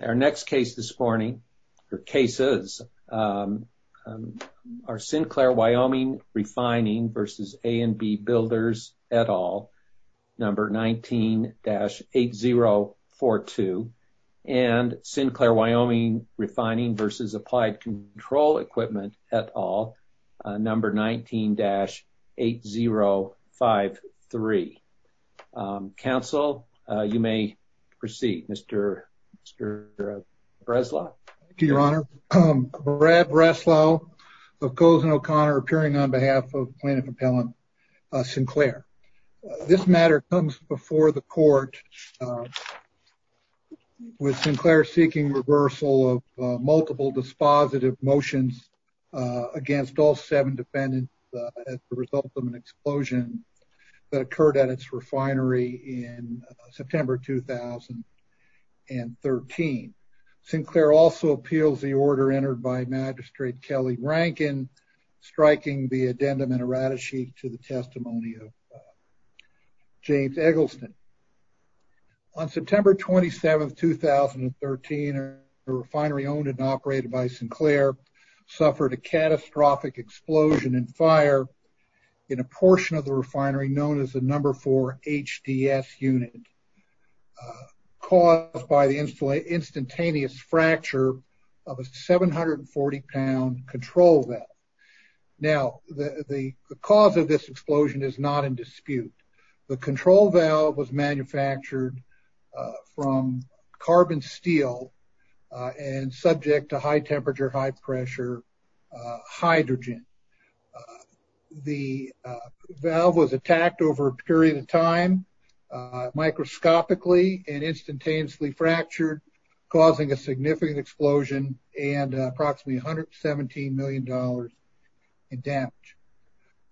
Our next case this morning are Sinclair Wyoming Refining v. A & B Builders, et al., 19-8042 and Sinclair Wyoming Refining v. Applied Control Equipment, et al., 19-8053. Counsel, you may proceed. Mr. Breslau. Thank you, Your Honor. Brad Breslau of Coles and O'Connor appearing on behalf of Plaintiff Appellant Sinclair. This matter comes before the court with Sinclair seeking reversal of multiple dispositive motions against all seven defendants as a result of an explosion that occurred at its refinery in September 2013. Sinclair also appeals the order entered by Magistrate Kelly Rankin, striking the addendum in Aradisheek to the testimony of James Eggleston. On September 27, 2013, a refinery owned and operated by Sinclair suffered a catastrophic explosion and fire in a portion of the refinery known as the No. 4 HDS unit caused by the instantaneous fracture of a 740-pound control valve. Now, the cause of this explosion is not in dispute. The control valve was manufactured from carbon steel and subject to high temperature, high pressure hydrogen. The valve was attacked over a period of time, microscopically and instantaneously fractured, causing a significant explosion and approximately $117 million in damage.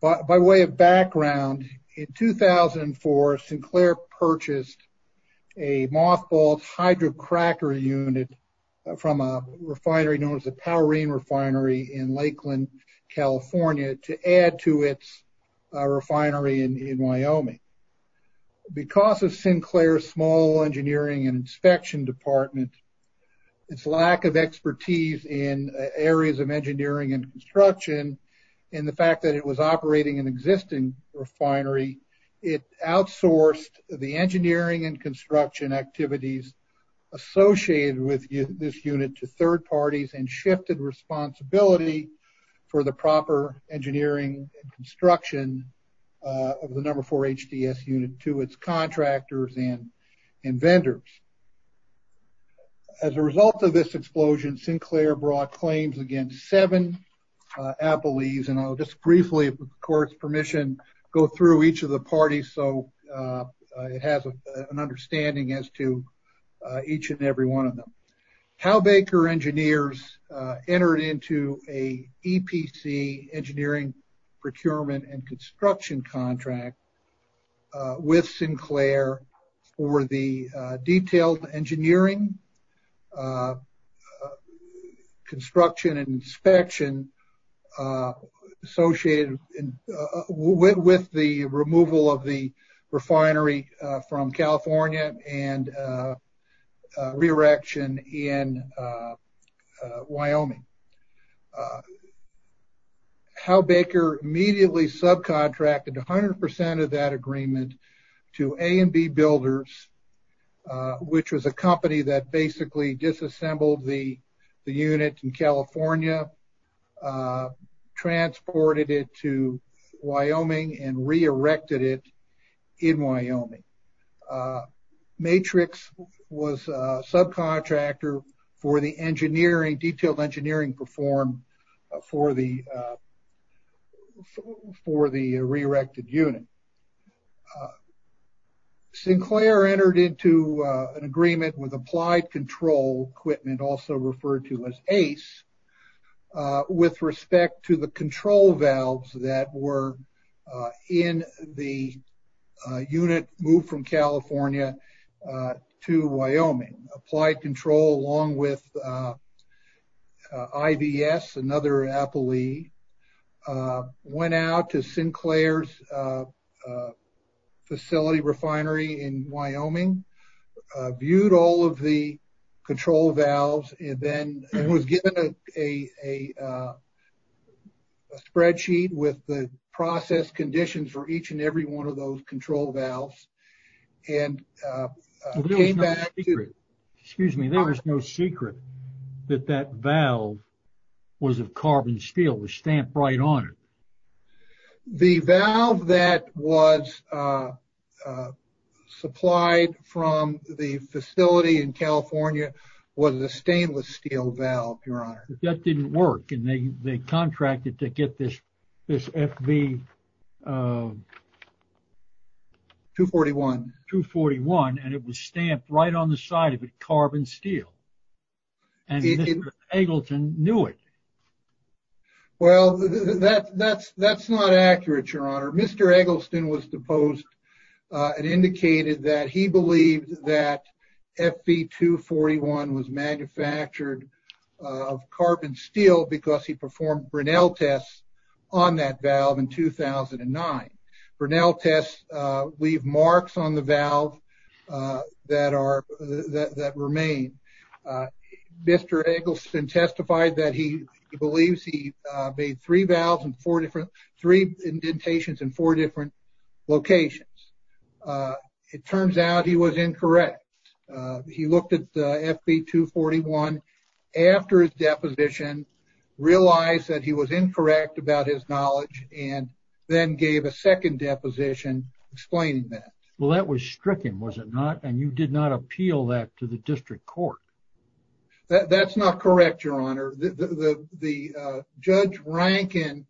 By way of background, in 2004, Sinclair purchased a mothballed hydrocracker unit from a refinery known as the Powerine Refinery in Lakeland, California to add to its refinery in Wyoming. Because of Sinclair's small engineering and inspection department, its lack of expertise in areas of engineering and construction, and the fact that it was operating an existing refinery, it outsourced the engineering and construction activities associated with this unit to third parties and shifted responsibility for the proper engineering and construction of the No. 4 HDS unit to its contractors and vendors. As a result of this explosion, Sinclair brought claims against seven appellees, and I'll just briefly, with the court's permission, go through each of the parties so it has an understanding as to each and every one of them. Hal Baker Engineers entered into an EPC, Engineering Procurement and Construction contract with Sinclair for the detailed engineering, construction, and inspection associated with the removal of the refinery from California, and re-erection in Wyoming. Hal Baker immediately subcontracted 100% of that agreement to A&B Builders, which was a company that basically disassembled the unit in California, transported it to Wyoming, and re-erected it in Wyoming. Matrix was a subcontractor for the detailed engineering performed for the re-erected unit. Sinclair entered into an agreement with Applied Control Equipment, also referred to as ACE, with respect to the control valves that were in the unit moved from California to Wyoming. Applied Control along with IVS, another appellee, went out to Sinclair's facility refinery in Wyoming, viewed all of the control valves, and then was given a spreadsheet with the process conditions for each and every one of those control valves, and came back to- Excuse me, there was no secret that that valve was of carbon steel, it was stamped right on it. The valve that was supplied from the facility in California was a stainless steel valve, your honor. That didn't work, and they contracted to get this FV- 241. 241, and it was stamped right on the side of it, carbon steel. And Mr. Eggleton knew it. Well, that's not accurate, your honor. Mr. Eggleston was deposed and indicated that he believed that FV-241 was manufactured of carbon steel because he performed Brinell tests on that valve in 2009. Brinell tests leave marks on the valve that remain. Mr. Eggleston testified that he believes he made three indentations in four different locations. It turns out he was incorrect. He looked at FV-241 after his deposition, realized that he was incorrect about his knowledge, and then gave a second deposition explaining that. Well, that was stricken, was it not? And you did not appeal that to the district court. That's not correct, your honor. Judge Rankin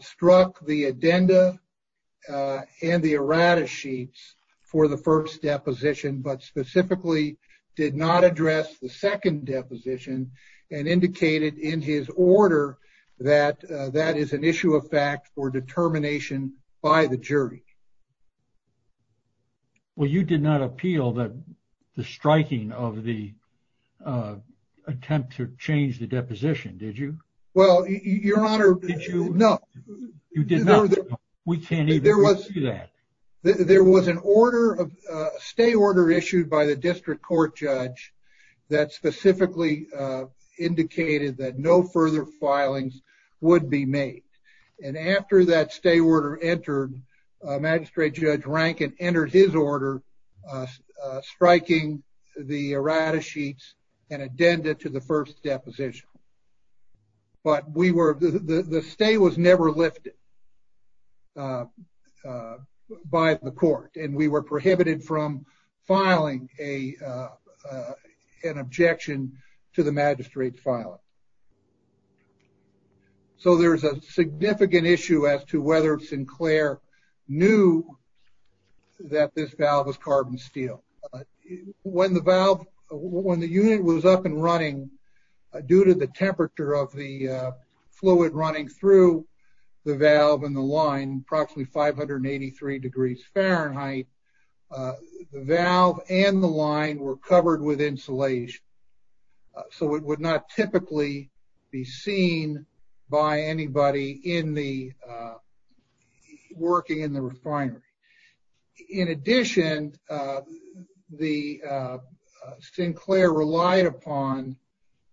struck the addenda and the errata sheets for the first deposition, but specifically did not address the second deposition and indicated in his order that that is an issue of fact for determination by the jury. Well, you did not appeal the striking of the attempt to change the deposition, did you? Well, your honor, no. You did not. We can't even see that. There was an order, a stay order issued by the district court judge that specifically indicated that no further filings would be made. And after that stay order entered, Magistrate Judge Rankin entered his order striking the errata sheets and addenda to the first deposition. But the stay was never lifted by the court, and we were prohibited from filing an objection to the magistrate's filing. So there's a significant issue as to whether Sinclair knew that this valve was carbon steel. When the unit was up and running, due to the temperature of the fluid running through the valve and the line, approximately 583 degrees Fahrenheit, the valve and the line were covered with insulation. So it would not typically be seen by anybody working in the refinery. In addition, Sinclair relied upon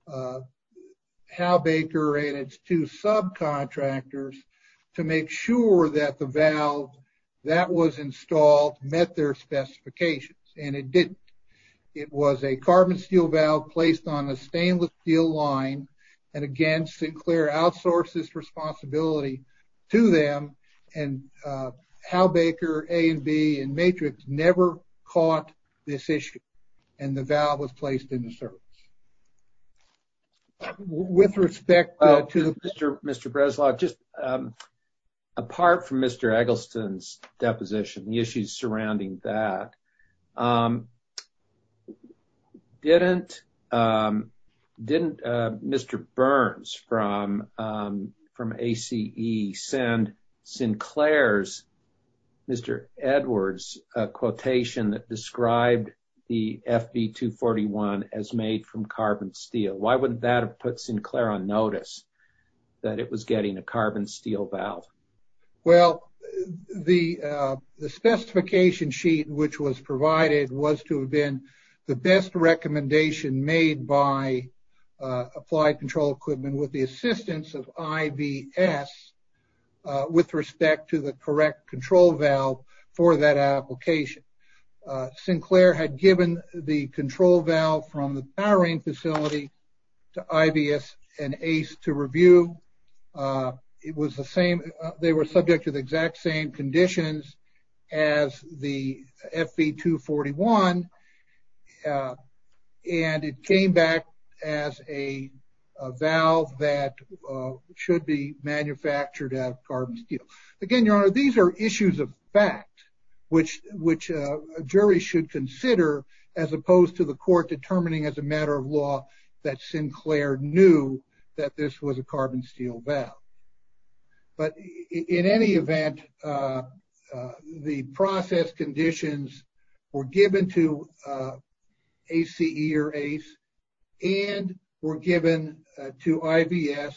Hal Baker and its two subcontractors to make sure that the valve that was installed met their specifications, and it didn't. It was a carbon steel valve placed on a stainless steel line, and again, Sinclair outsourced this responsibility to them. And Hal Baker, A&B, and Matrix never caught this issue, and the valve was placed in the service. With respect to... Mr. Breslau, apart from Mr. Eggleston's deposition, the issues surrounding that, didn't Mr. Burns from ACE send Sinclair's, Mr. Edwards' quotation that described the FV241 as made from carbon steel? Why wouldn't that have put Sinclair on notice that it was getting a carbon steel valve? Well, the specification sheet which was provided was to have been the best recommendation made by Applied Control Equipment with the assistance of IBS with respect to the correct control valve for that application. Sinclair had given the control valve from the powering facility to IBS and ACE to review. It was the same, they were subject to the exact same conditions as the FV241, and it came back as a valve that should be manufactured out of carbon steel. Again, Your Honor, these are issues of fact which a jury should consider as opposed to the court determining as a matter of law that Sinclair knew that this was a carbon steel valve. But in any event, the process conditions were given to ACE and were given to IBS.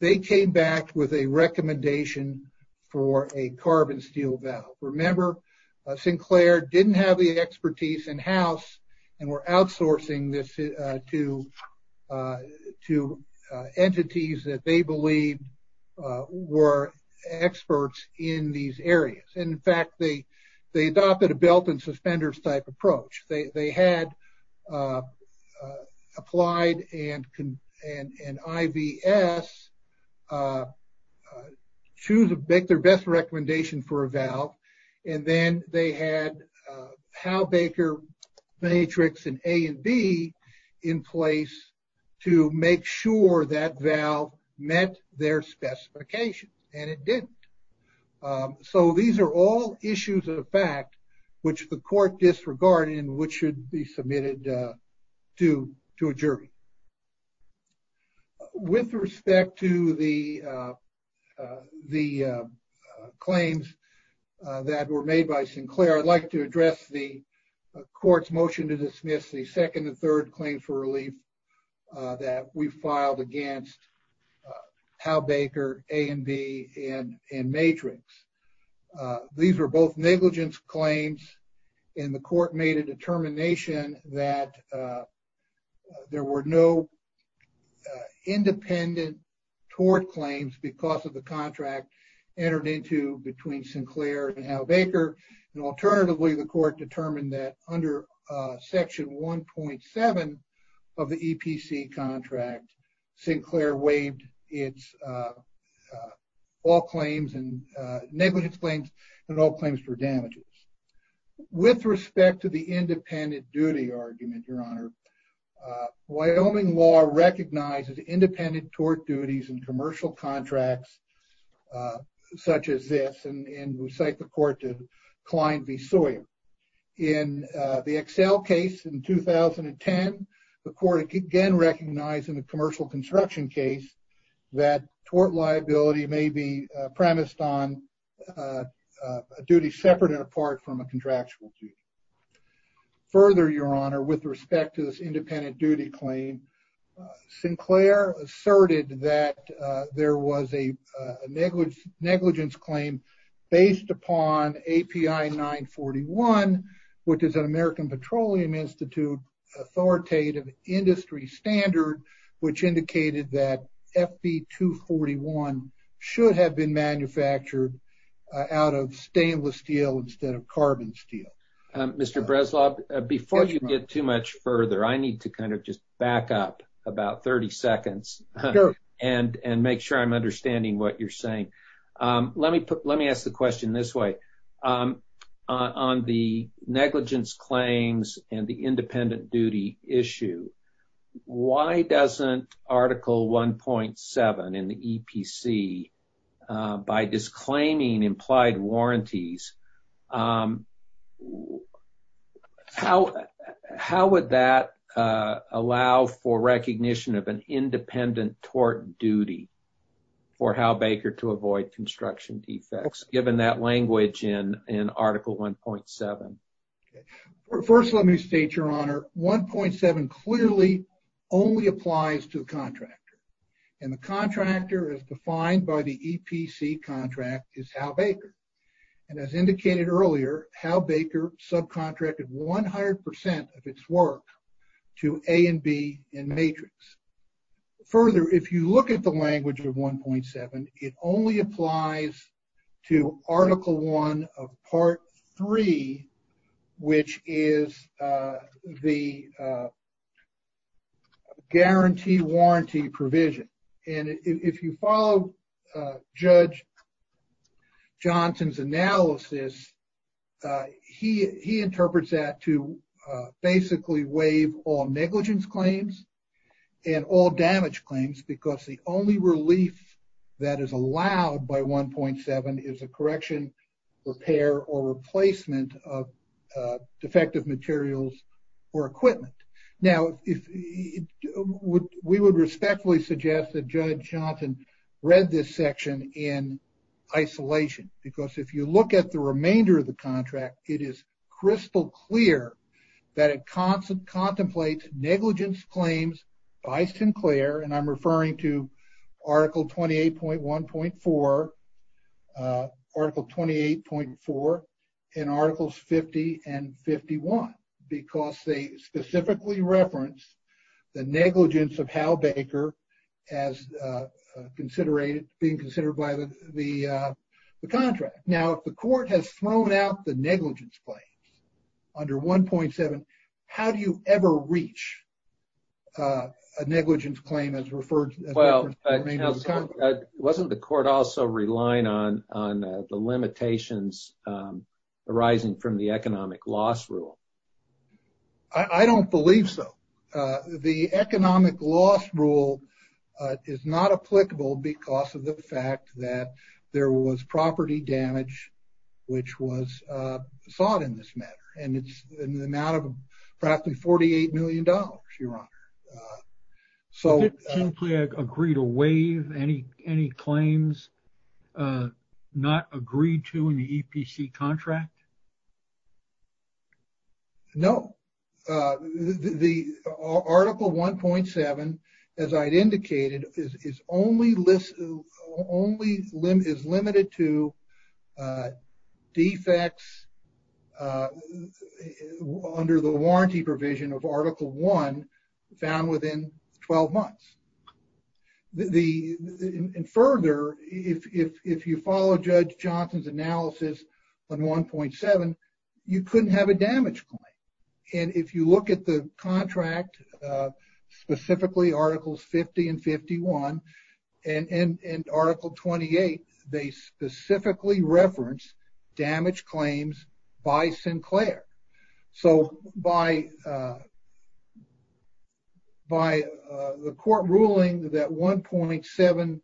They came back with a recommendation for a carbon steel valve. Remember, Sinclair didn't have the expertise in-house and were outsourcing this to entities that they believed were experts in these areas. In fact, they adopted a belt and suspenders type approach. They had Applied and IBS make their best recommendation for a valve, and then they had Hal Baker Matrix in A and B in place to make sure that valve met their specifications, and it didn't. So these are all issues of fact which the court disregarded and which should be submitted to a jury. With respect to the claims that were made by Sinclair, I'd like to address the court's motion to dismiss the second and third claims for relief that we filed against Hal Baker A and B in Matrix. These were both negligence claims, and the court made a determination that there were no independent tort claims because of the contract entered into between Sinclair and Hal Baker. Alternatively, the court determined that under Section 1.7 of the EPC contract, Sinclair waived its all claims and negligence claims and all claims for damages. With respect to the independent duty argument, Your Honor, Wyoming law recognizes independent tort duties in commercial contracts such as this, and we cite the court to Klein v. Sawyer. In the Excel case in 2010, the court again recognized in the commercial construction case that tort liability may be premised on a duty separate and apart from a contractual duty. In the case of FB 241, which is an American Petroleum Institute authoritative industry standard, which indicated that FB 241 should have been manufactured out of stainless steel instead of carbon steel. Mr. Breslov, before you get too much further, I need to kind of just back up about 30 seconds and make sure I'm understanding what you're saying. Let me ask the question this way. On the negligence claims and the independent duty issue, why doesn't Article 1.7 in the EPC, by disclaiming implied warranties, how would that allow for recognition of an independent tort duty for Hal Baker to avoid construction defects, given that language in Article 1.7? And as indicated earlier, Hal Baker subcontracted 100% of its work to A and B in Matrix. Further, if you look at the language of 1.7, it only applies to Article 1 of Part 3, which is the guarantee warranty provision. And if you follow Judge Johnson's analysis, he interprets that to basically waive all negligence claims and all damage claims because the only relief that is allowed by 1.7 is a correction, repair, or replacement of defective materials or equipment. Now, we would respectfully suggest that Judge Johnson read this section in isolation. Because if you look at the remainder of the contract, it is crystal clear that it contemplates negligence claims by Sinclair, and I'm referring to Article 28.1.4, Article 28.4, and Articles 50 and 51. Because they specifically reference the negligence of Hal Baker as being considered by the contract. Now, if the court has thrown out the negligence claims under 1.7, how do you ever reach a negligence claim as referred to in the remainder of the contract? Wasn't the court also relying on the limitations arising from the economic loss rule? I don't believe so. The economic loss rule is not applicable because of the fact that there was property damage which was sought in this matter. And it's in the amount of practically $48 million, Your Honor. Did Sinclair agree to waive any claims not agreed to in the EPC contract? No. Article 1.7, as I indicated, is limited to defects under the warranty provision of Article 1 found within 12 months. And further, if you follow Judge Johnson's analysis on 1.7, you couldn't have a damage claim. And if you look at the contract, specifically Articles 50 and 51, and Article 28, they specifically reference damage claims by Sinclair. So by the court ruling that 1.7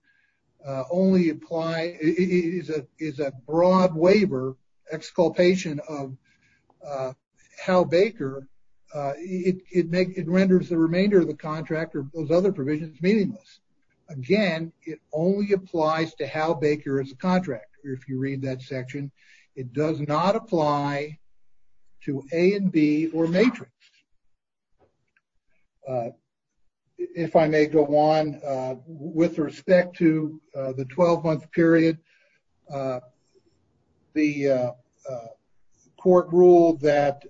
is a broad waiver exculpation of Hal Baker, it renders the remainder of the contract or those other provisions meaningless. Again, it only applies to Hal Baker as a contractor if you read that section. It does not apply to A and B or Matrix. If I may go on, with respect to the 12-month period, the court ruled that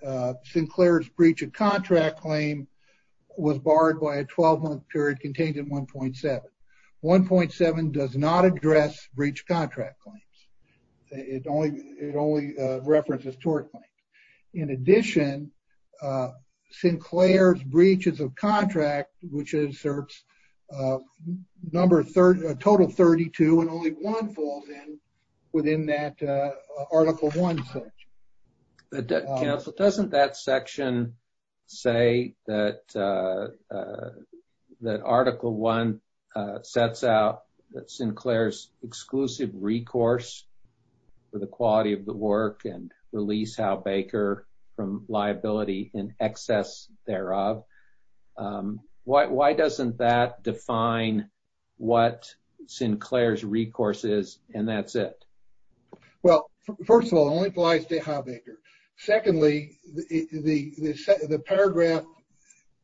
Sinclair's breach of contract claim was barred by a 12-month period contained in 1.7. 1.7 does not address breach of contract claims. It only references tort claims. In addition, Sinclair's breaches of contract, which inserts a total of 32 and only one falls in within that Article 1 section. Counsel, doesn't that section say that Article 1 sets out Sinclair's exclusive recourse for the quality of the work and release Hal Baker from liability in excess thereof? Why doesn't that define what Sinclair's recourse is and that's it? Well, first of all, it only applies to Hal Baker. Secondly, the paragraph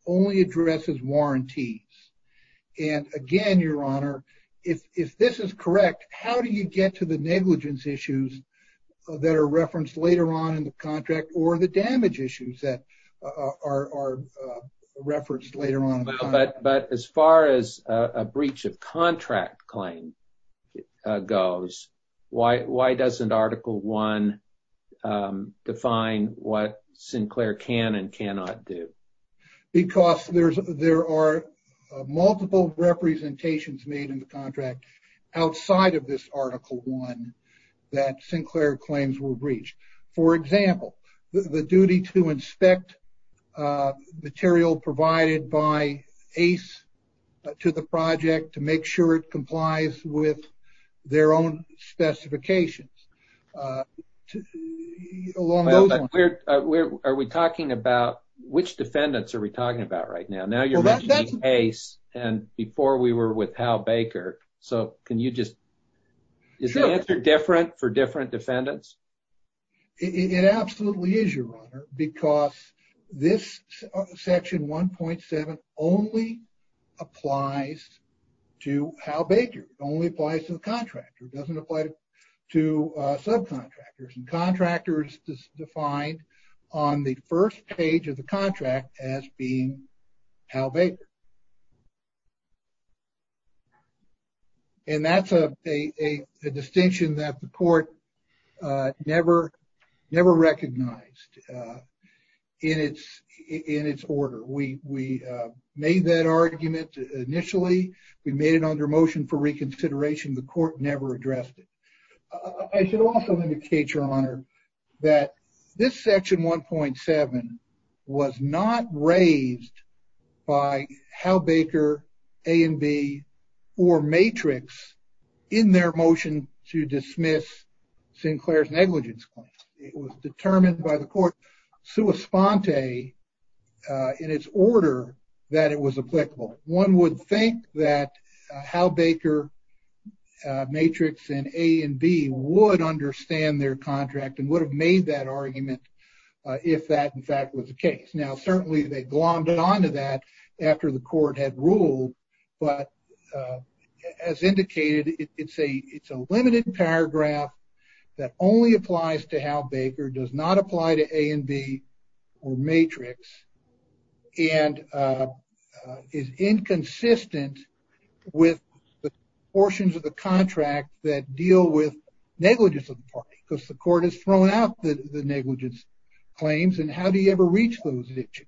only addresses warranties. And again, Your Honor, if this is correct, how do you get to the negligence issues that are referenced later on in the contract or the damage issues that are referenced later on? But as far as a breach of contract claim goes, why doesn't Article 1 define what Sinclair can and cannot do? Because there are multiple representations made in the contract outside of this Article 1 that Sinclair claims were breached. For example, the duty to inspect material provided by Ace to the project to make sure it complies with their own specifications. Are we talking about which defendants are we talking about right now? Now you're mentioning Ace and before we were with Hal Baker. So can you just, is the answer different for different defendants? It absolutely is, Your Honor, because this Section 1.7 only applies to Hal Baker. It only applies to the contractor. It doesn't apply to subcontractors. And contractor is defined on the first page of the contract as being Hal Baker. And that's a distinction that the court never recognized in its order. We made that argument initially. We made it under motion for reconsideration. The court never addressed it. I should also indicate, Your Honor, that this Section 1.7 was not raised by Hal Baker, A and B, or Matrix in their motion to dismiss Sinclair's negligence claim. It was determined by the court sua sponte in its order that it was applicable. One would think that Hal Baker, Matrix, and A and B would understand their contract and would have made that argument if that, in fact, was the case. Now certainly they glommed on to that after the court had ruled. But as indicated, it's a limited paragraph that only applies to Hal Baker, does not apply to A and B or Matrix, and is inconsistent with the portions of the contract that deal with negligence of the party, because the court has thrown out the negligence claims. And how do you ever reach those issues?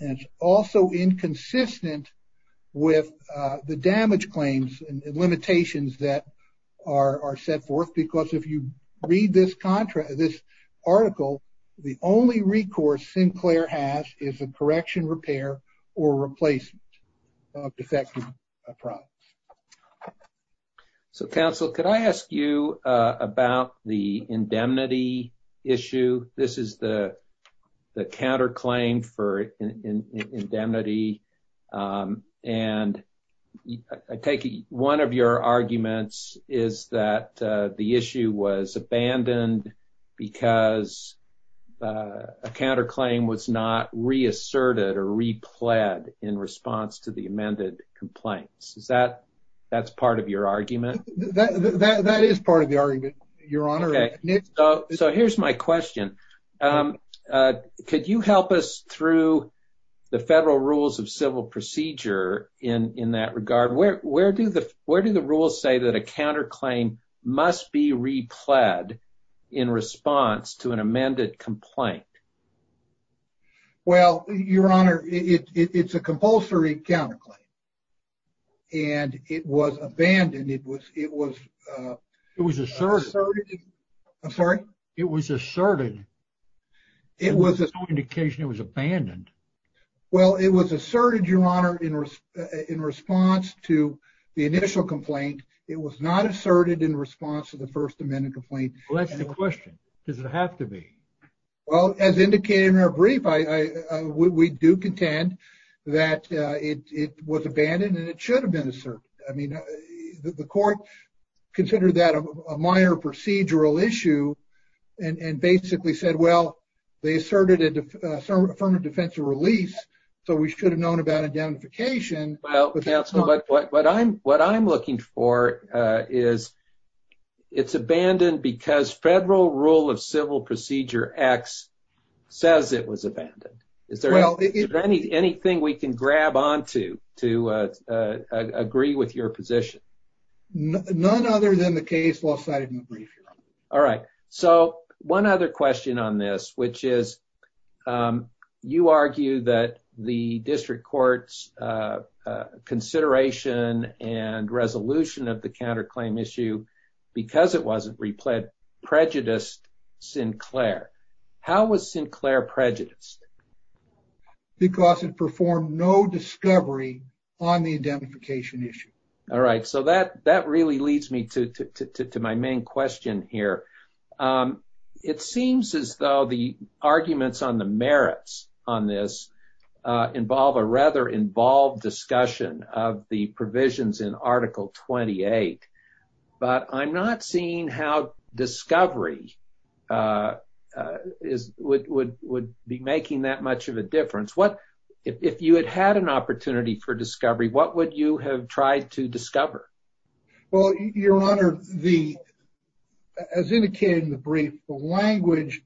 And it's also inconsistent with the damage claims and limitations that are set forth. Because if you read this article, the only recourse Sinclair has is a correction, repair, or replacement of defective products. So, counsel, could I ask you about the indemnity issue? This is the counterclaim for indemnity. And I take one of your arguments is that the issue was abandoned because a counterclaim was not reasserted or repled in response to the amended complaints. Is that part of your argument? That is part of the argument, Your Honor. So here's my question. Could you help us through the federal rules of civil procedure in that regard? Where do the rules say that a counterclaim must be repled in response to an amended complaint? Well, Your Honor, it's a compulsory counterclaim. And it was abandoned. It was asserted. I'm sorry? It was asserted. It was asserted. There's no indication it was abandoned. Well, it was asserted, Your Honor, in response to the initial complaint. It was not asserted in response to the first amended complaint. Well, that's the question. Does it have to be? Well, as indicated in our brief, we do contend that it was abandoned and it should have been asserted. I mean, the court considered that a minor procedural issue and basically said, well, they asserted an affirmative defense of release, so we should have known about identification. But what I'm what I'm looking for is it's abandoned because federal rule of civil procedure X says it was abandoned. Is there anything we can grab onto to agree with your position? None other than the case law cited in the brief, Your Honor. All right. So one other question on this, which is you argue that the district court's consideration and resolution of the counterclaim issue because it wasn't replayed prejudiced Sinclair. How was Sinclair prejudiced? Because it performed no discovery on the identification issue. All right. So that that really leads me to my main question here. It seems as though the arguments on the merits on this involve a rather involved discussion of the provisions in Article 28. But I'm not seeing how discovery is would would would be making that much of a difference. What if you had had an opportunity for discovery, what would you have tried to discover? Well, Your Honor, the as indicated in the brief, the language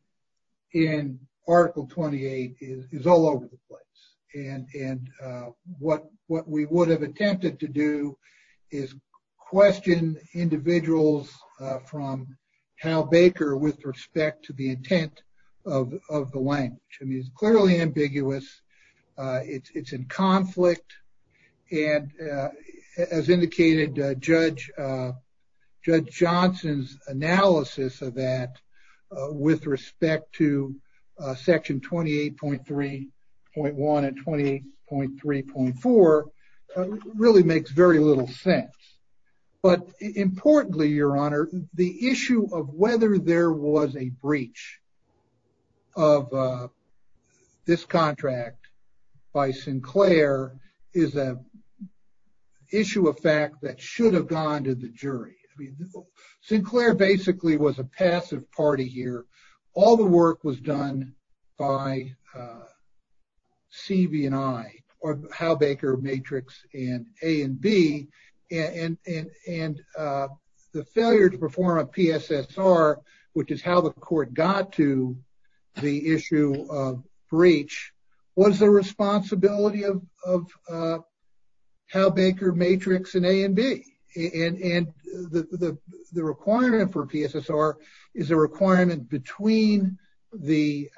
in Article 28 is all over the place. And what what we would have attempted to do is question individuals from how Baker with respect to the intent of the language is clearly ambiguous. It's in conflict. And as indicated, Judge Judge Johnson's analysis of that with respect to Section twenty eight point three point one and twenty eight point three point four really makes very little sense. But importantly, Your Honor, the issue of whether there was a breach of this contract by Sinclair is a issue of fact that should have gone to the jury. I mean, Sinclair basically was a passive party here. All the work was done by CV and I or how Baker Matrix and A and B and and the failure to perform a PSSR, which is how the court got to the issue of breach. What is the responsibility of how Baker Matrix and A and B and the requirement for PSSR is a requirement between the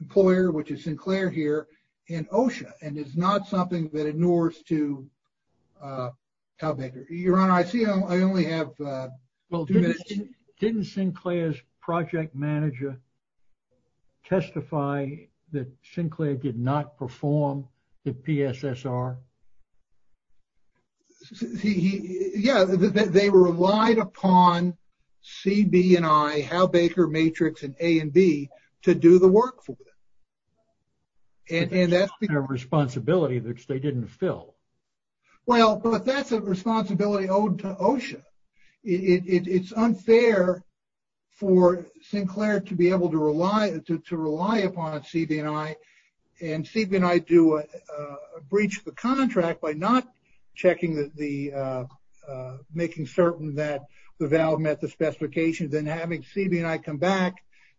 employer, which is Sinclair here in OSHA. And it's not something that ignores to tell Baker, Your Honor, I feel I only have. Well, didn't Sinclair's project manager testify that Sinclair did not perform the PSSR? He yeah, they relied upon CB and I, how Baker Matrix and A and B to do the work for them. And that's their responsibility that they didn't fill. Well, but that's a responsibility owed to OSHA. It's unfair for Sinclair to be able to rely to rely upon CB and I and CB and I do a breach of the contract by not checking the making certain that the valve met the specifications and having CB and I come back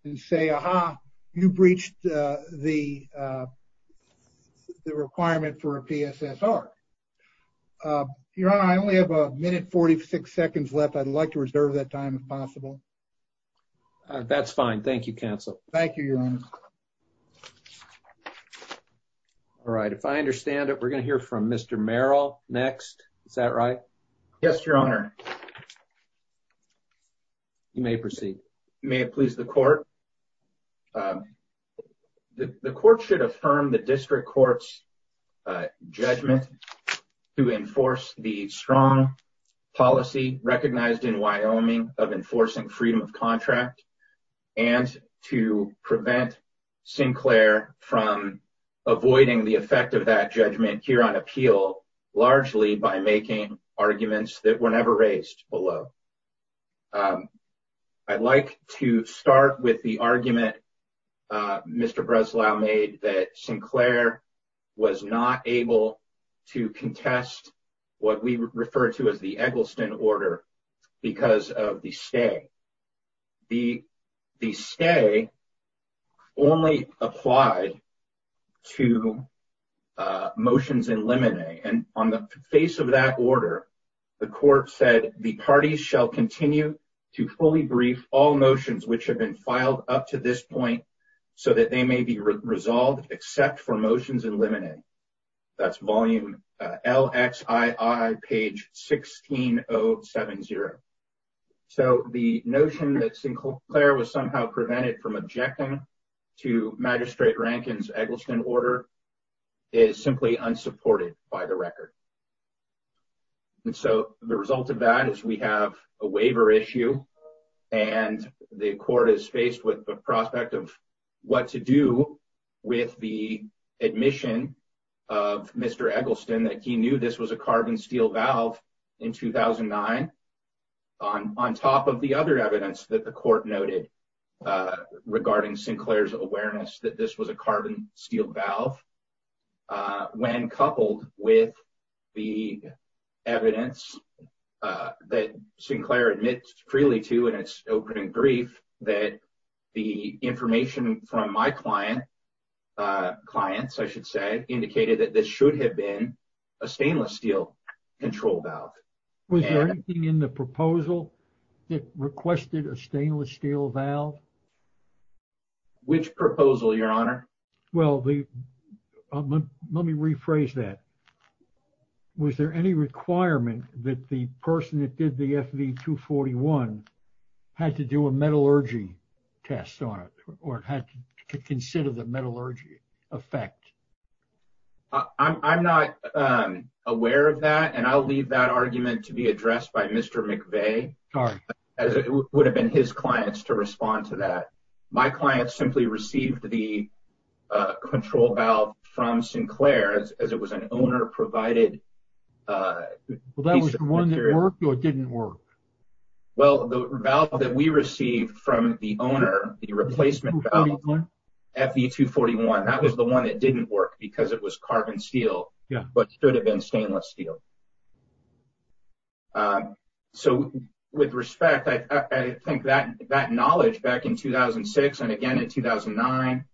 and say, aha, you breached the requirement for a PSSR. Your Honor, I only have a minute, 46 seconds left. I'd like to reserve that time if possible. That's fine. Thank you, counsel. Thank you, Your Honor. All right. If I understand it, we're going to hear from Mr. Merrill next. Is that right? Yes, Your Honor. You may proceed. May it please the court. The court should affirm the district court's judgment to enforce the strong policy recognized in Wyoming of enforcing freedom of contract and to prevent Sinclair from avoiding the effect of that judgment here on appeal, largely by making arguments that were never raised below. I'd like to start with the argument Mr. Breslau made that Sinclair was not able to contest what we refer to as the Eggleston order because of the stay. The stay only applied to motions in limine. And on the face of that order, the court said the parties shall continue to fully brief all motions which have been filed up to this point so that they may be resolved except for motions in limine. That's volume LXII page 16070. So the notion that Sinclair was somehow prevented from objecting to Magistrate Rankin's Eggleston order is simply unsupported by the record. And so the result of that is we have a waiver issue and the court is faced with the prospect of what to do with the admission of Mr. Eggleston that he knew this was a carbon steel valve in 2009. On top of the other evidence that the court noted regarding Sinclair's awareness that this was a carbon steel valve, when coupled with the evidence that Sinclair admits freely to in its opening brief that the information from my clients indicated that this should have been a stainless steel control valve. Was there anything in the proposal that requested a stainless steel valve? Which proposal, Your Honor? Well, let me rephrase that. Was there any requirement that the person that did the FV241 had to do a metallurgy test on it or had to consider the metallurgy effect? I'm not aware of that, and I'll leave that argument to be addressed by Mr. McVeigh, as it would have been his clients to respond to that. My client simply received the control valve from Sinclair as it was an owner-provided piece of material. Well, that was the one that worked or didn't work? Well, the valve that we received from the owner, the replacement valve, FV241, that was the one that didn't work because it was carbon steel, but should have been stainless steel. So, with respect, I think that knowledge back in 2006 and again in 2009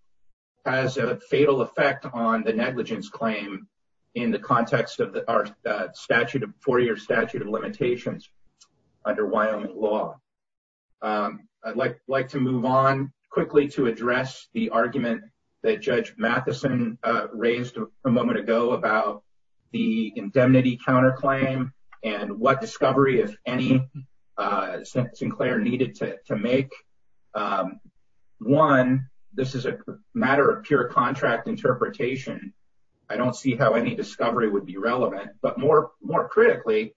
has a fatal effect on the negligence claim in the context of our four-year statute of limitations under Wyoming law. I'd like to move on quickly to address the argument that Judge Matheson raised a moment ago about the indemnity counterclaim and what discovery, if any, Sinclair needed to make. One, this is a matter of pure contract interpretation. I don't see how any discovery would be relevant. But more critically,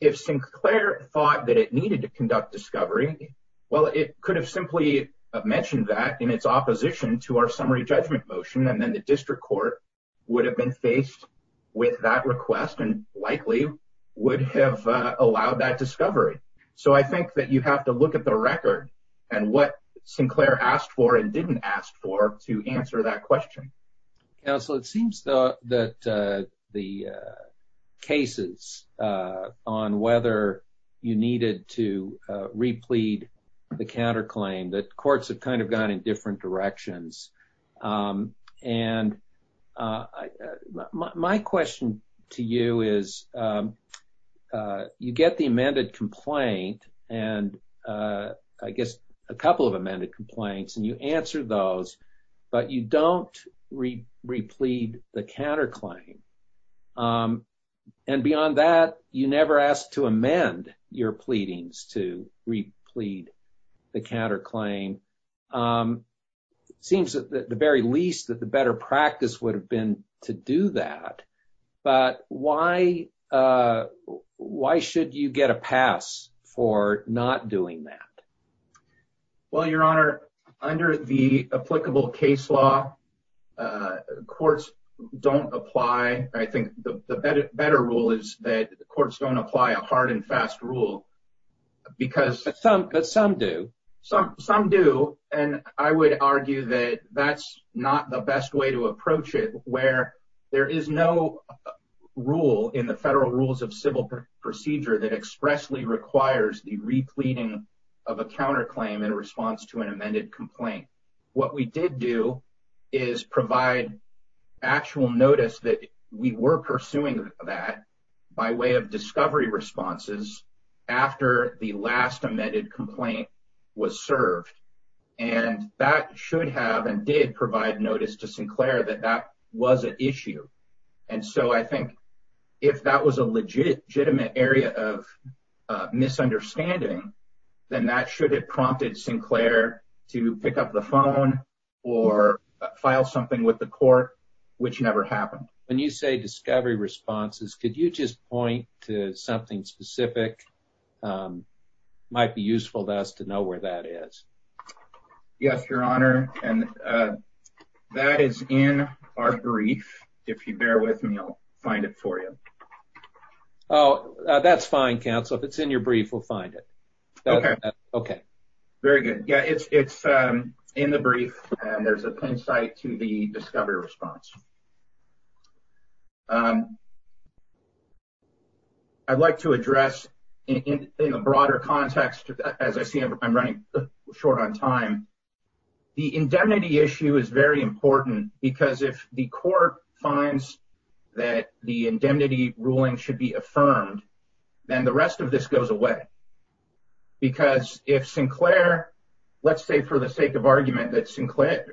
if Sinclair thought that it needed to conduct discovery, well, it could have simply mentioned that in its opposition to our summary judgment motion, and then the district court would have been faced with that request and likely would have allowed that discovery. So, I think that you have to look at the record and what Sinclair asked for and didn't ask for to answer that question. Counsel, it seems that the cases on whether you needed to replead the counterclaim, that courts have kind of gone in different directions. And my question to you is, you get the amended complaint, and I guess a couple of amended complaints, and you answer those, but you don't replead the counterclaim. And beyond that, you never asked to amend your pleadings to replead the counterclaim. It seems at the very least that the better practice would have been to do that. But why should you get a pass for not doing that? Well, Your Honor, under the applicable case law, courts don't apply. I think the better rule is that the courts don't apply a hard and fast rule. But some do. Some do, and I would argue that that's not the best way to approach it, where there is no rule in the Federal Rules of Civil Procedure that expressly requires the repleading of a counterclaim in response to an amended complaint. What we did do is provide actual notice that we were pursuing that by way of discovery responses after the last amended complaint was served. And that should have and did provide notice to Sinclair that that was an issue. And so I think if that was a legitimate area of misunderstanding, then that should have prompted Sinclair to pick up the phone or file something with the court, which never happened. When you say discovery responses, could you just point to something specific that might be useful to us to know where that is? Yes, Your Honor, and that is in our brief. If you bear with me, I'll find it for you. Oh, that's fine, counsel. If it's in your brief, we'll find it. Okay. Very good. Yeah, it's in the brief, and there's a pin site to the discovery response. I'd like to address in a broader context, as I see I'm running short on time, the indemnity issue is very important because if the court finds that the indemnity ruling should be affirmed, then the rest of this goes away. Because if Sinclair, let's say for the sake of argument that Sinclair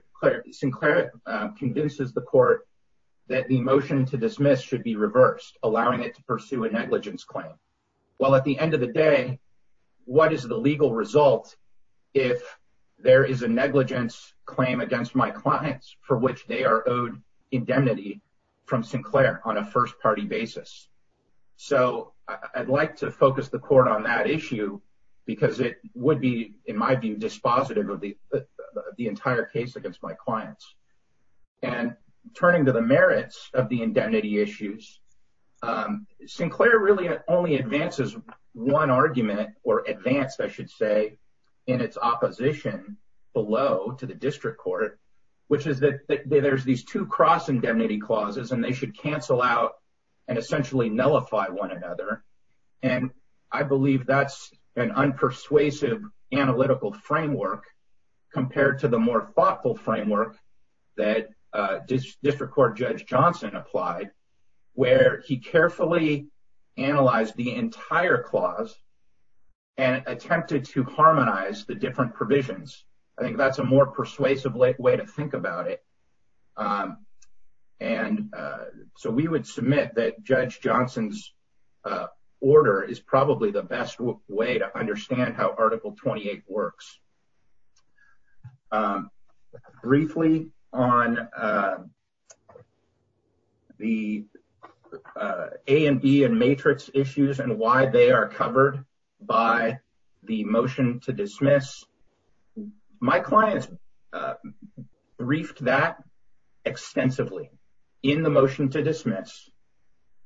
convinces the court that the motion to dismiss should be reversed, allowing it to pursue a negligence claim. Well, at the end of the day, what is the legal result if there is a negligence claim against my clients for which they are owed indemnity from Sinclair on a first party basis? So I'd like to focus the court on that issue because it would be, in my view, dispositive of the entire case against my clients. And turning to the merits of the indemnity issues, Sinclair really only advances one argument or advanced, I should say, in its opposition below to the district court, which is that there's these two cross indemnity clauses and they should cancel out and essentially nullify one another. And I believe that's an unpersuasive analytical framework compared to the more thoughtful framework that district court Judge Johnson applied, where he carefully analyzed the entire clause and attempted to harmonize the different provisions. I think that's a more persuasive way to think about it. And so we would submit that Judge Johnson's order is probably the best way to understand how Article 28 works. Briefly on the A and B and matrix issues and why they are covered by the motion to dismiss, my clients briefed that extensively in the motion to dismiss.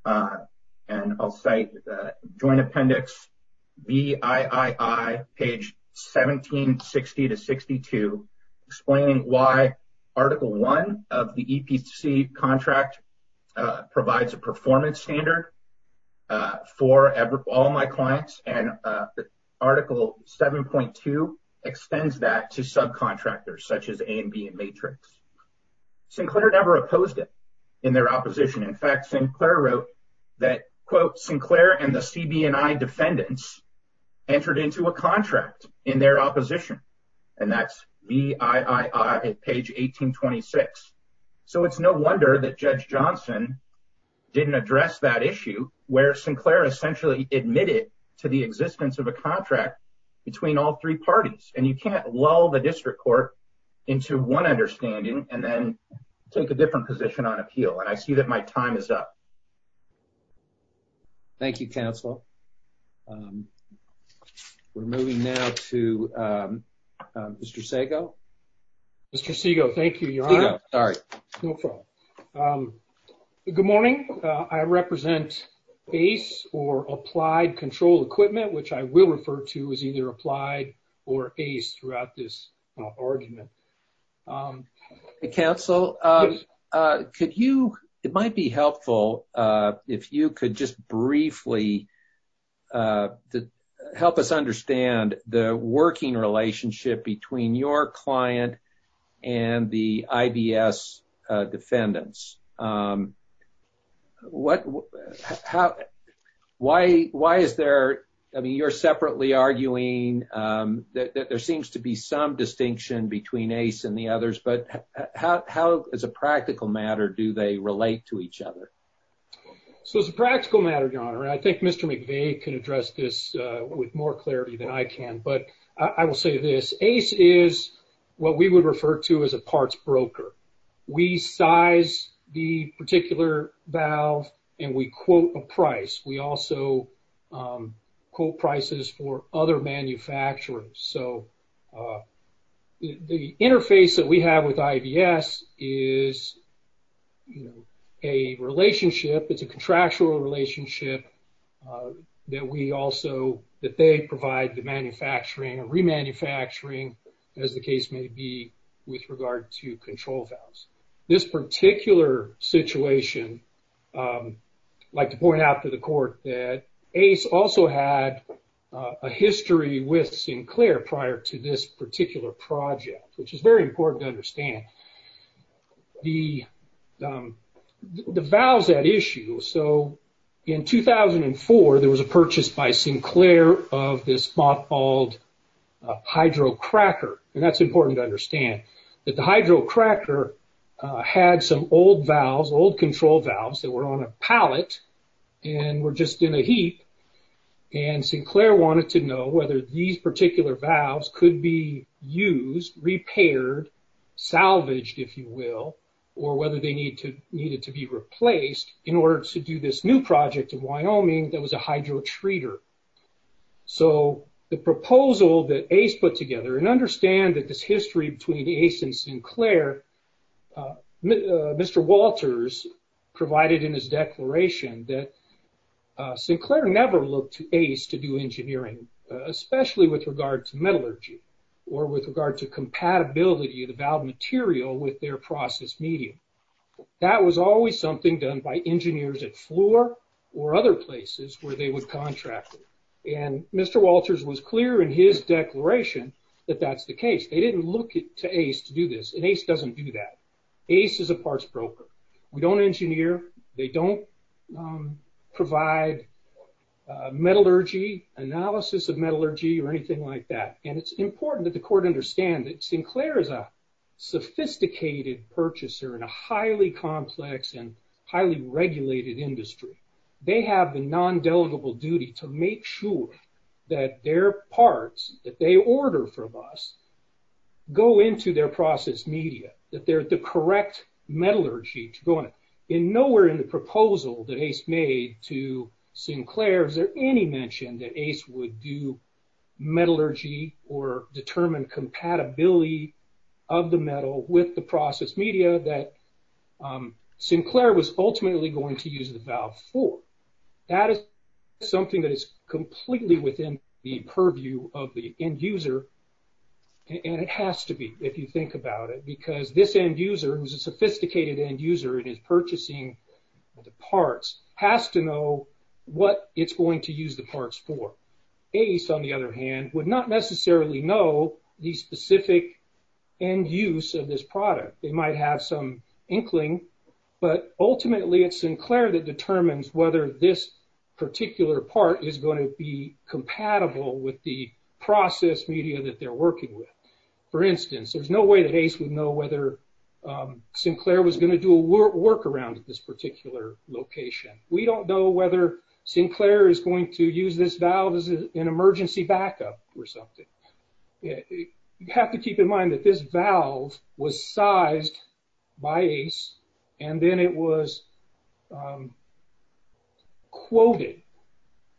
And I'll say the Joint Appendix BII page 1760 to 62 explaining why Article 1 of the EPC contract provides a performance standard for all my clients and Article 7.2 extends that to subcontractors such as A and B and matrix. Sinclair never opposed it in their opposition. In fact, Sinclair wrote that, quote, Sinclair and the CB&I defendants entered into a contract in their opposition. And that's BII at page 1826. So it's no wonder that Judge Johnson didn't address that issue where Sinclair essentially admitted to the existence of a contract between all three parties. And you can't lull the district court into one understanding and then take a different position on appeal. And I see that my time is up. Thank you, counsel. We're moving now to Mr. Sego. Mr. Sego, thank you, Your Honor. Sorry. Good morning. I represent ACE or Applied Control Equipment, which I will refer to as either applied or ACE throughout this argument. Counsel, could you, it might be helpful if you could just briefly help us understand the working relationship between your client and the IBS defendants. What, how, why, why is there, I mean, you're separately arguing that there seems to be some distinction between ACE and the others, but how, as a practical matter, do they relate to each other? So as a practical matter, Your Honor, I think Mr. McVeigh can address this with more clarity than I can. But I will say this. ACE is what we would refer to as a parts broker. We size the particular valve and we quote a price. We also quote prices for other manufacturers. So the interface that we have with IBS is a relationship. It's a contractual relationship that we also, that they provide the manufacturing and remanufacturing, as the case may be, with regard to control valves. This particular situation, I'd like to point out to the court that ACE also had a history with Sinclair prior to this particular project, which is very important to understand. The valves had issues. So in 2004, there was a purchase by Sinclair of this spot called Hydro Cracker. And that's important to understand, that the Hydro Cracker had some old valves, old control valves that were on a pallet and were just in a heap. And Sinclair wanted to know whether these particular valves could be used, repaired, salvaged, if you will, or whether they needed to be replaced in order to do this new project in Wyoming that was a hydro treater. So the proposal that ACE put together, and understand that this history between ACE and Sinclair, Mr. Walters provided in his declaration that Sinclair never looked to ACE to do engineering, especially with regard to metallurgy or with regard to compatibility of the valve material with their process medium. That was always something done by engineers at Fluor or other places where they would contract it. And Mr. Walters was clear in his declaration that that's the case. They didn't look to ACE to do this, and ACE doesn't do that. ACE is a parts broker. We don't engineer. They don't provide metallurgy, analysis of metallurgy or anything like that. And it's important that the court understand that Sinclair is a sophisticated purchaser in a highly complex and highly regulated industry. They have a non-delegable duty to make sure that their parts that they order from us go into their process media, that they're the correct metallurgy to go in. Now, in nowhere in the proposal that ACE made to Sinclair is there any mention that ACE would do metallurgy or determine compatibility of the metal with the process media that Sinclair was ultimately going to use the valve for. That is something that is completely within the purview of the end user, and it has to be, if you think about it. Because this end user, who's a sophisticated end user and is purchasing the parts, has to know what it's going to use the parts for. ACE, on the other hand, would not necessarily know the specific end use of this product. They might have some inkling, but ultimately it's Sinclair that determines whether this particular part is going to be compatible with the process media that they're working with. For instance, there's no way that ACE would know whether Sinclair was going to do a workaround at this particular location. We don't know whether Sinclair is going to use this valve as an emergency backup or something. You have to keep in mind that this valve was sized by ACE, and then it was quoted.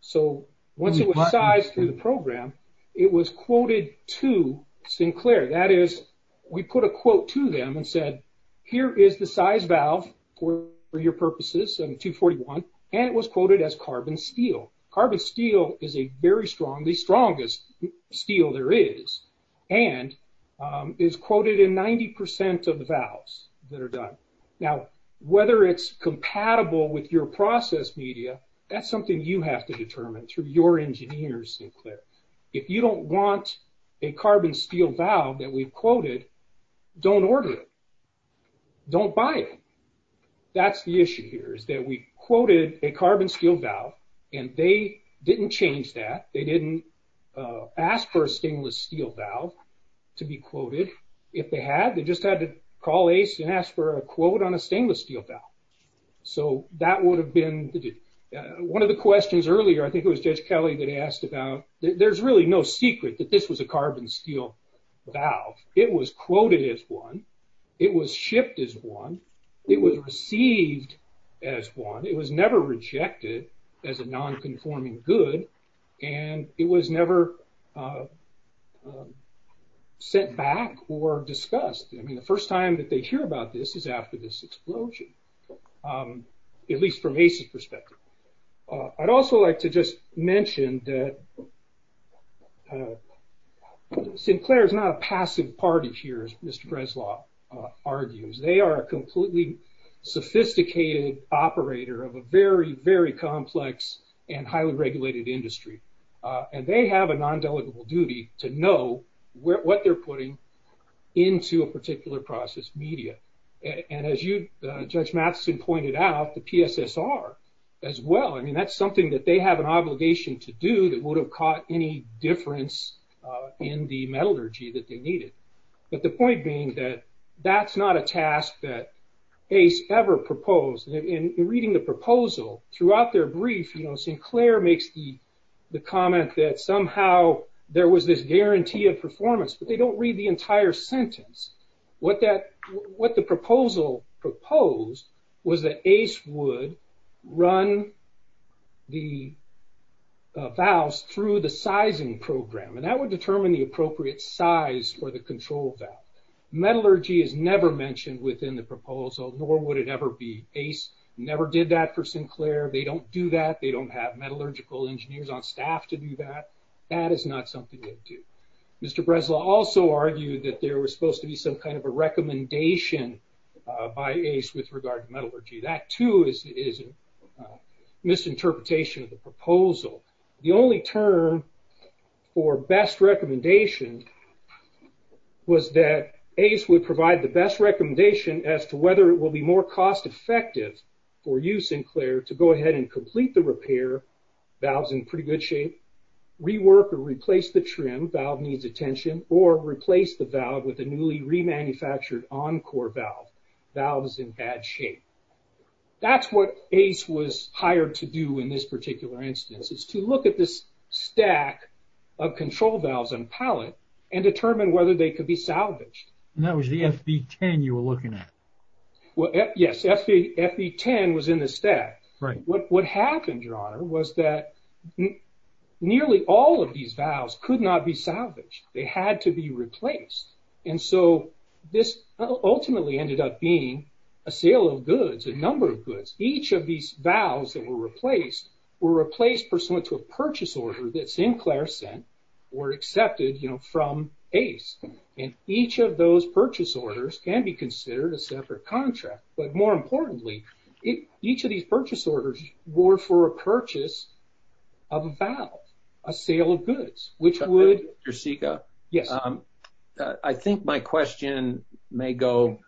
So, once it was sized through the program, it was quoted to Sinclair. That is, we put a quote to them and said, here is the size valve for your purposes, 241, and it was quoted as carbon steel. Carbon steel is the strongest steel there is, and is quoted in 90% of the valves that are done. Now, whether it's compatible with your process media, that's something you have to determine through your engineers, Sinclair. If you don't want a carbon steel valve that we've quoted, don't order it. Don't buy it. That's the issue here, is that we quoted a carbon steel valve, and they didn't change that. They didn't ask for a stainless steel valve to be quoted. If they had, they just had to call ACE and ask for a quote on a stainless steel valve. So, that would have been... One of the questions earlier, I think it was Judge Kelly that asked about... There's really no secret that this was a carbon steel valve. It was quoted as one. It was shipped as one. It was received as one. It was never rejected as a non-conforming good, and it was never sent back or discussed. I mean, the first time that they hear about this is after this explosion, at least from ACE's perspective. I'd also like to just mention that Sinclair is not a passive party here, as Mr. Breslau argues. They are a completely sophisticated operator of a very, very complex and highly regulated industry, and they have a non-delegable duty to know what they're putting into a particular process, media. And as Judge Matheson pointed out, the PSSR as well. I mean, that's something that they have an obligation to do that would have caught any difference in the metallurgy that they needed. But the point being that that's not a task that ACE ever proposed. In reading the proposal, throughout their brief, Sinclair makes the comment that somehow there was this guarantee of performance, but they don't read the entire sentence. What the proposal proposed was that ACE would run the valves through the sizing program, and that would determine the appropriate size for the control valve. Metallurgy is never mentioned within the proposal, nor would it ever be. ACE never did that for Sinclair. They don't do that. They don't have metallurgical engineers on staff to do that. That is not something they do. Mr. Breslau also argued that there was supposed to be some kind of a recommendation by ACE with regard to metallurgy. That, too, is a misinterpretation of the proposal. The only term for best recommendation was that ACE would provide the best recommendation as to whether it will be more cost-effective for you, Sinclair, to go ahead and complete the repair, valves in pretty good shape, rework or replace the trim, valve needs attention, or replace the valve with a newly remanufactured on-core valve, valves in bad shape. That's what ACE was hired to do in this particular instance, is to look at this stack of control valves on pallet and determine whether they could be salvaged. And that was the FB10 you were looking at. Yes, FB10 was in the stack. What happened, Your Honor, was that nearly all of these valves could not be salvaged. They had to be replaced. And so this ultimately ended up being a sale of goods, a number of goods. Each of these valves that were replaced were replaced pursuant to a purchase order that Sinclair sent or accepted from ACE. And each of those purchase orders can be considered a separate contract. But more importantly, each of these purchase orders were for a purchase of a valve, a sale of goods, which would... Dr. Sica, I think my question may go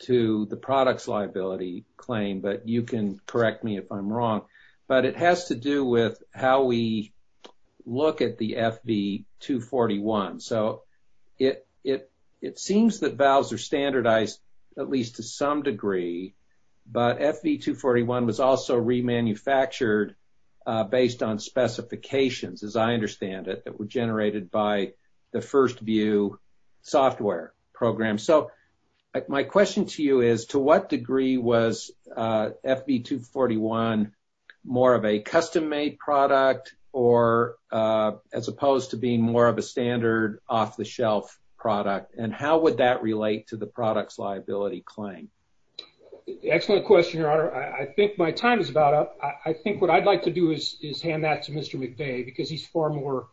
to the products liability claim, but you can correct me if I'm wrong. But it has to do with how we look at the FB241. So it seems that valves are standardized, at least to some degree. But FB241 was also remanufactured based on specifications, as I understand it, that were generated by the First View software program. So my question to you is, to what degree was FB241 more of a custom-made product or as opposed to being more of a standard off-the-shelf product? And how would that relate to the products liability claim? Excellent question, Your Honor. I think my time is about up. I think what I'd like to do is hand that to Mr. McVeigh because he's far more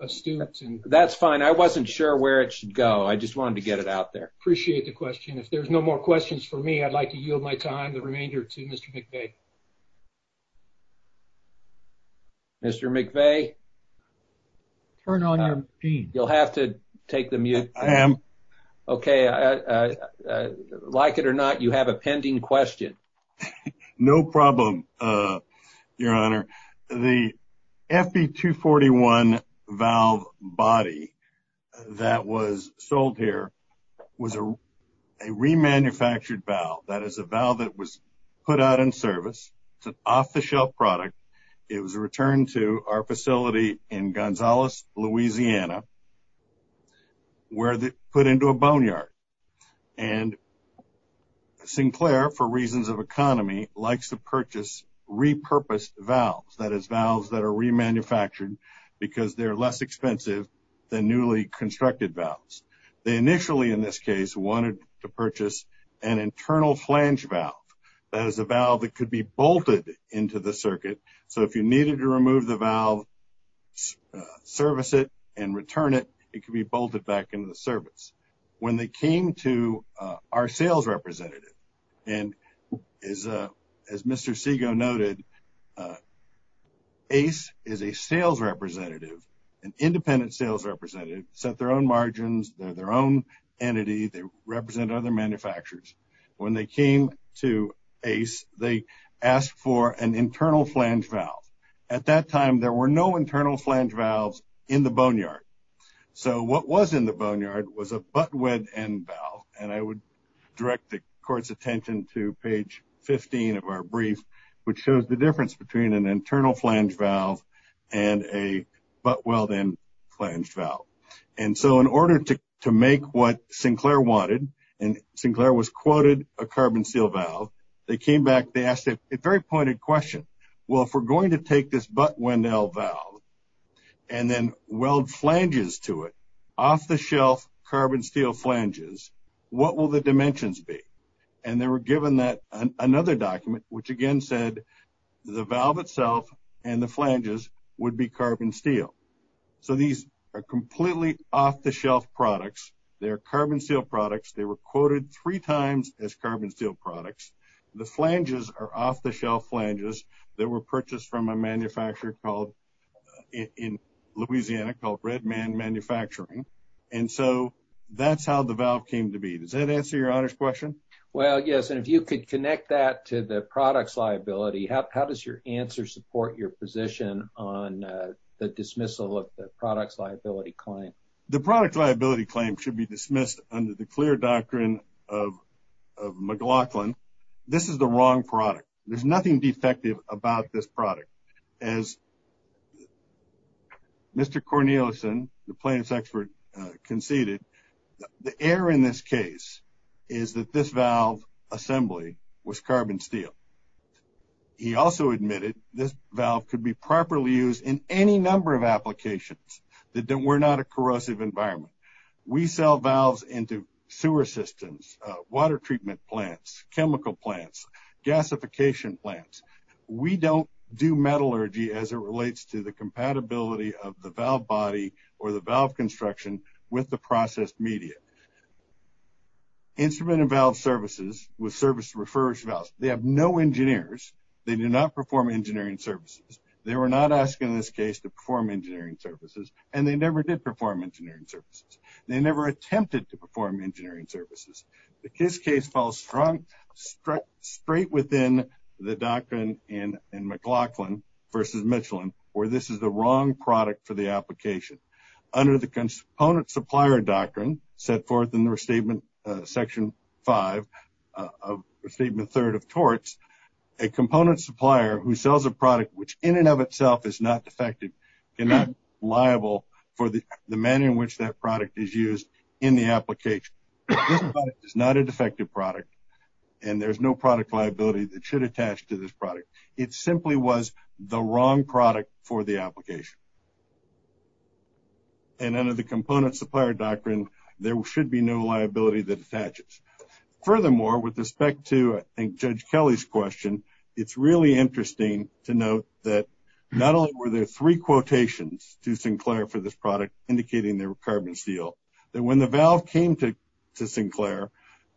astute. That's fine. I wasn't sure where it should go. I just wanted to get it out there. Appreciate the question. If there's no more questions for me, I'd like to yield my time, the remainder, to Mr. McVeigh. Mr. McVeigh? Turn on your machine. You'll have to take the mute. I am. Okay. Like it or not, you have a pending question. No problem, Your Honor. The FB241 valve body that was sold here was a remanufactured valve. That is a valve that was put out in service. It's an off-the-shelf product. It was returned to our facility in Gonzales, Louisiana, where it was put into a boneyard. And Sinclair, for reasons of economy, likes to purchase repurposed valves. That is, valves that are remanufactured because they're less expensive than newly constructed valves. They initially, in this case, wanted to purchase an internal flange valve. That is a valve that could be bolted into the circuit. So if you needed to remove the valve, service it, and return it, it could be bolted back into the service. When they came to our sales representative, and as Mr. Segoe noted, ACE is a sales representative, an independent sales representative, set their own margins. They're their own entity. They represent other manufacturers. When they came to ACE, they asked for an internal flange valve. At that time, there were no internal flange valves in the boneyard. So what was in the boneyard was a butt-weld-in valve. And I would direct the court's attention to page 15 of our brief, which shows the difference between an internal flange valve and a butt-weld-in flange valve. And so in order to make what Sinclair wanted, and Sinclair was quoted a carbon steel valve, they came back, they asked a very pointed question. Well, if we're going to take this butt-weld-in valve and then weld flanges to it, off-the-shelf carbon steel flanges, what will the dimensions be? And they were given another document, which again said the valve itself and the flanges would be carbon steel. So these are completely off-the-shelf products. They're carbon steel products. They were quoted three times as carbon steel products. The flanges are off-the-shelf flanges that were purchased from a manufacturer in Louisiana called Red Man Manufacturing. And so that's how the valve came to be. Does that answer your honors question? Well, yes, and if you could connect that to the products liability, how does your answer support your position on the dismissal of the products liability claim? The products liability claim should be dismissed under the clear doctrine of McLaughlin. This is the wrong product. There's nothing defective about this product. As Mr. Cornelison, the plaintiff's expert, conceded, the error in this case is that this valve assembly was carbon steel. He also admitted this valve could be properly used in any number of applications. We're not a corrosive environment. We sell valves into sewer systems, water treatment plants, chemical plants, gasification plants. We don't do metallurgy as it relates to the compatibility of the valve body or the valve construction with the processed media. Instrument and valve services with service to refurbished valves. They have no engineers. They do not perform engineering services. They were not asked in this case to perform engineering services, and they never did perform engineering services. They never attempted to perform engineering services. This case falls straight within the doctrine in McLaughlin versus Michelin where this is the wrong product for the application. Under the component supplier doctrine set forth in the restatement section five of restatement third of torts, a component supplier who sells a product which in and of itself is not defective cannot be liable for the manner in which that product is used in the application. This product is not a defective product, and there's no product liability that should attach to this product. It simply was the wrong product for the application, and under the component supplier doctrine, there should be no liability that attaches. Furthermore, with respect to, I think, Judge Kelly's question, it's really interesting to note that not only were there three quotations to Sinclair for this product indicating they were carbon steel, that when the valve came to Sinclair,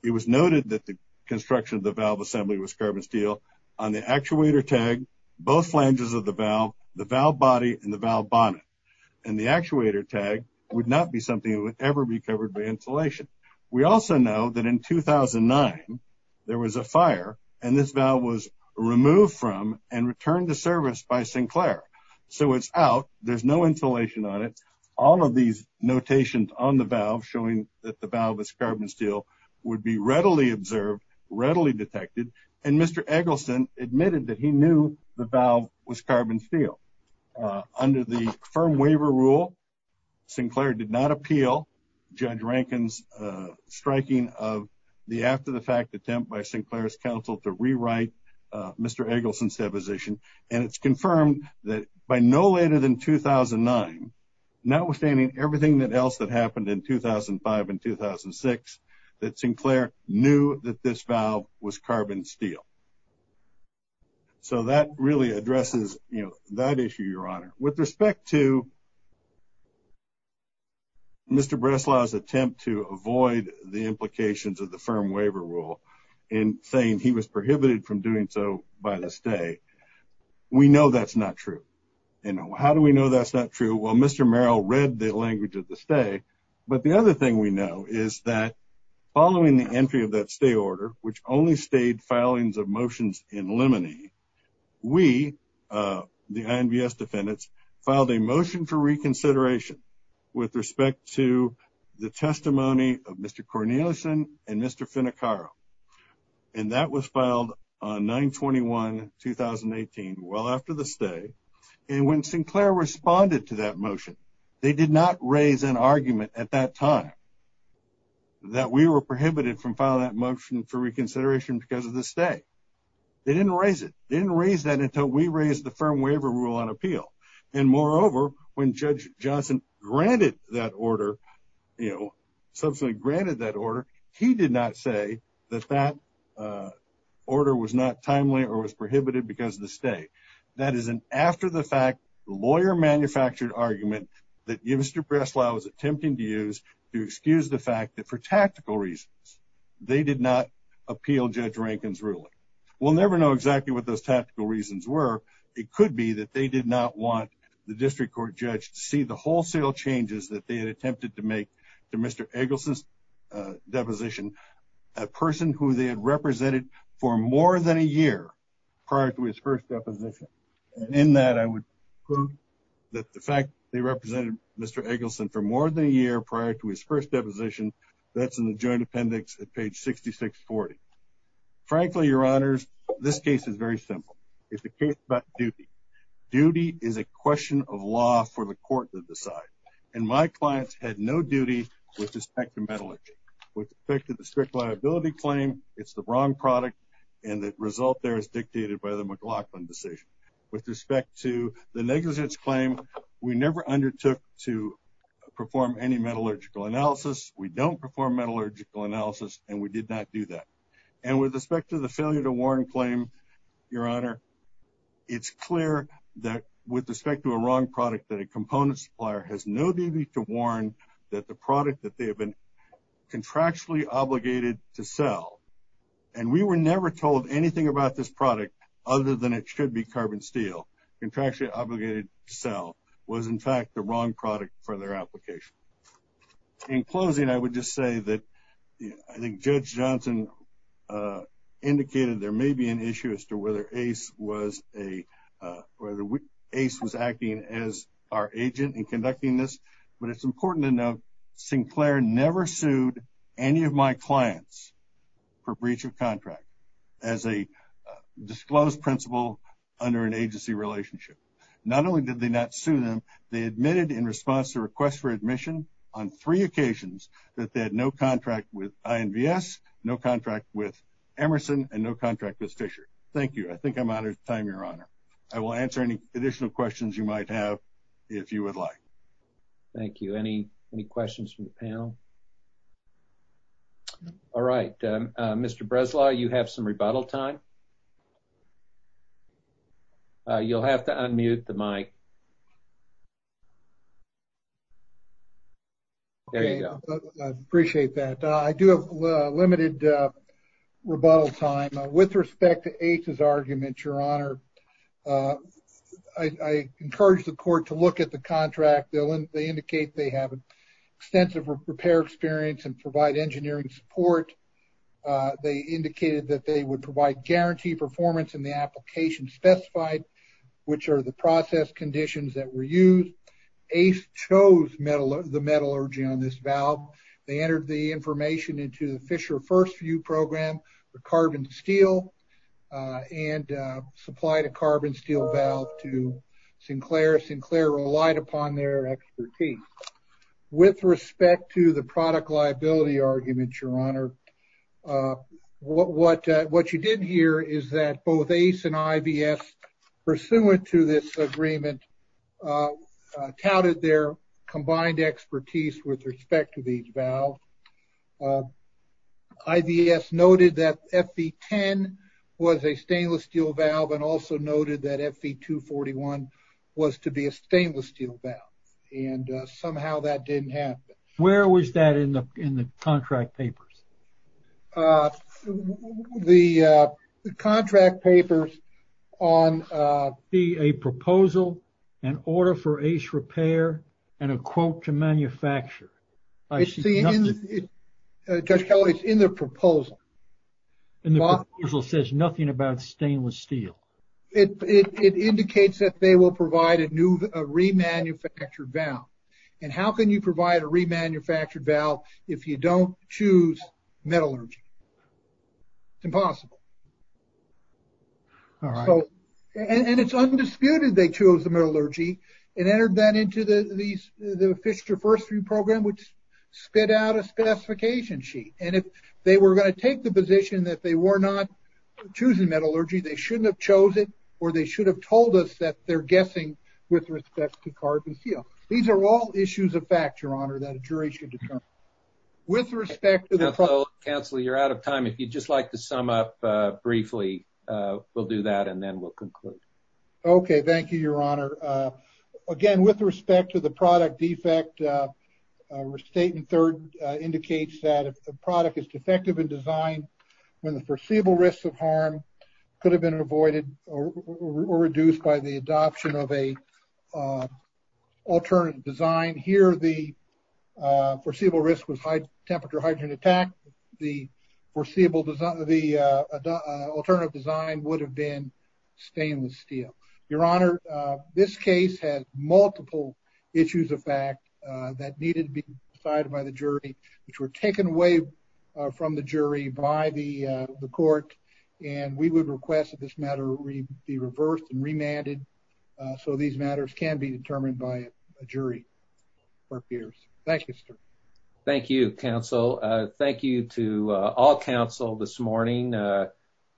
it was noted that the construction of the valve assembly was carbon steel on the actuator tag, both flanges of the valve, the valve body, and the valve bonnet. And the actuator tag would not be something that would ever be covered by insulation. We also know that in 2009, there was a fire, and this valve was removed from and returned to service by Sinclair. So it's out, there's no insulation on it. All of these notations on the valve showing that the valve is carbon steel would be readily observed, readily detected, and Mr. Eggleston admitted that he knew the valve was carbon steel. Under the firm waiver rule, Sinclair did not appeal Judge Rankin's striking of the after-the-fact attempt by Sinclair's counsel to rewrite Mr. Eggleston's deposition, and it's confirmed that by no later than 2009, notwithstanding everything else that happened in 2005 and 2006, that Sinclair knew that this valve was carbon steel. So that really addresses that issue, Your Honor. With respect to Mr. Breslau's attempt to avoid the implications of the firm waiver rule in saying he was prohibited from doing so by the stay, we know that's not true. And how do we know that's not true? Well, Mr. Merrill read the language of the stay. But the other thing we know is that following the entry of that stay order, which only stayed filings of motions in limine, we, the INVS defendants, filed a motion for reconsideration with respect to the testimony of Mr. Cornelison and Mr. Finacaro, and that was filed on 9-21-2018, well after the stay. And when Sinclair responded to that motion, they did not raise an argument at that time that we were prohibited from filing that motion for reconsideration because of the stay. They didn't raise it. They didn't raise that until we raised the firm waiver rule on appeal. And moreover, when Judge Johnson granted that order, you know, subsequently granted that order, he did not say that that order was not timely or was prohibited because of the stay. That is an after-the-fact, lawyer-manufactured argument that Mr. Breslau is attempting to use to excuse the fact that for tactical reasons, they did not appeal Judge Rankin's ruling. We'll never know exactly what those tactical reasons were. But it could be that they did not want the district court judge to see the wholesale changes that they had attempted to make to Mr. Eggleston's deposition, a person who they had represented for more than a year prior to his first deposition. And in that, I would prove that the fact they represented Mr. Eggleston for more than a year prior to his first deposition, that's in the joint appendix at page 6640. Frankly, Your Honors, this case is very simple. It's a case about duty. Duty is a question of law for the court to decide. And my clients had no duty with respect to metallurgy. With respect to the strict liability claim, it's the wrong product, and the result there is dictated by the McLaughlin decision. With respect to the negligence claim, we never undertook to perform any metallurgical analysis. We don't perform metallurgical analysis, and we did not do that. And with respect to the failure to warn claim, Your Honor, it's clear that with respect to a wrong product that a component supplier has no duty to warn that the product that they have been contractually obligated to sell. And we were never told anything about this product other than it should be carbon steel. Contractually obligated to sell was, in fact, the wrong product for their application. In closing, I would just say that I think Judge Johnson indicated there may be an issue as to whether ACE was acting as our agent in conducting this. But it's important to note Sinclair never sued any of my clients for breach of contract as a disclosed principle under an agency relationship. Not only did they not sue them, they admitted in response to a request for admission on three occasions that they had no contract with INVS, no contract with Emerson, and no contract with Fisher. Thank you. I think I'm out of time, Your Honor. I will answer any additional questions you might have if you would like. Thank you. Any questions from the panel? All right. Mr. Breslau, you have some rebuttal time. You'll have to unmute the mic. There you go. I appreciate that. I do have limited rebuttal time. With respect to ACE's argument, Your Honor, I encourage the court to look at the contract. They indicate they have extensive repair experience and provide engineering support. They indicated that they would provide guaranteed performance in the application specified, which are the process conditions that were used. ACE chose the metallurgy on this valve. They entered the information into the Fisher First View program for carbon steel and supplied a carbon steel valve to Sinclair. Sinclair relied upon their expertise. With respect to the product liability argument, Your Honor, what you didn't hear is that both ACE and IVS, pursuant to this agreement, touted their combined expertise with respect to these valves. IVS noted that FV10 was a stainless steel valve and also noted that FV241 was to be a stainless steel valve. And somehow that didn't happen. Where was that in the contract papers? The contract papers on a proposal, an order for ACE repair, and a quote to manufacture. I see nothing. Judge Kelly, it's in the proposal. And the proposal says nothing about stainless steel. It indicates that they will provide a remanufactured valve. And how can you provide a remanufactured valve if you don't choose metallurgy? It's impossible. And it's undisputed they chose the metallurgy and entered that into the Fisher First View program, which spit out a specification sheet. And if they were going to take the position that they were not choosing metallurgy, they shouldn't have chosen or they should have told us that they're guessing with respect to carbon steel. These are all issues of fact, Your Honor, that a jury should determine. Counselor, you're out of time. If you'd just like to sum up briefly, we'll do that and then we'll conclude. Okay. Thank you, Your Honor. Again, with respect to the product defect, statement third indicates that if the product is defective in design, when the foreseeable risks of harm could have been avoided or reduced by the adoption of an alternative design. Here, the foreseeable risk was high temperature hydrogen attack. The alternative design would have been stainless steel. Your Honor, this case has multiple issues of fact that needed to be decided by the jury, which were taken away from the jury by the court. And we would request that this matter be reversed and remanded so these matters can be determined by a jury. Thank you, sir. Thank you, counsel. Thank you to all counsel this morning.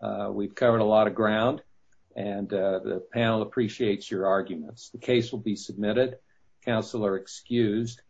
We've covered a lot of ground and the panel appreciates your arguments. The case will be submitted. Counsel are excused.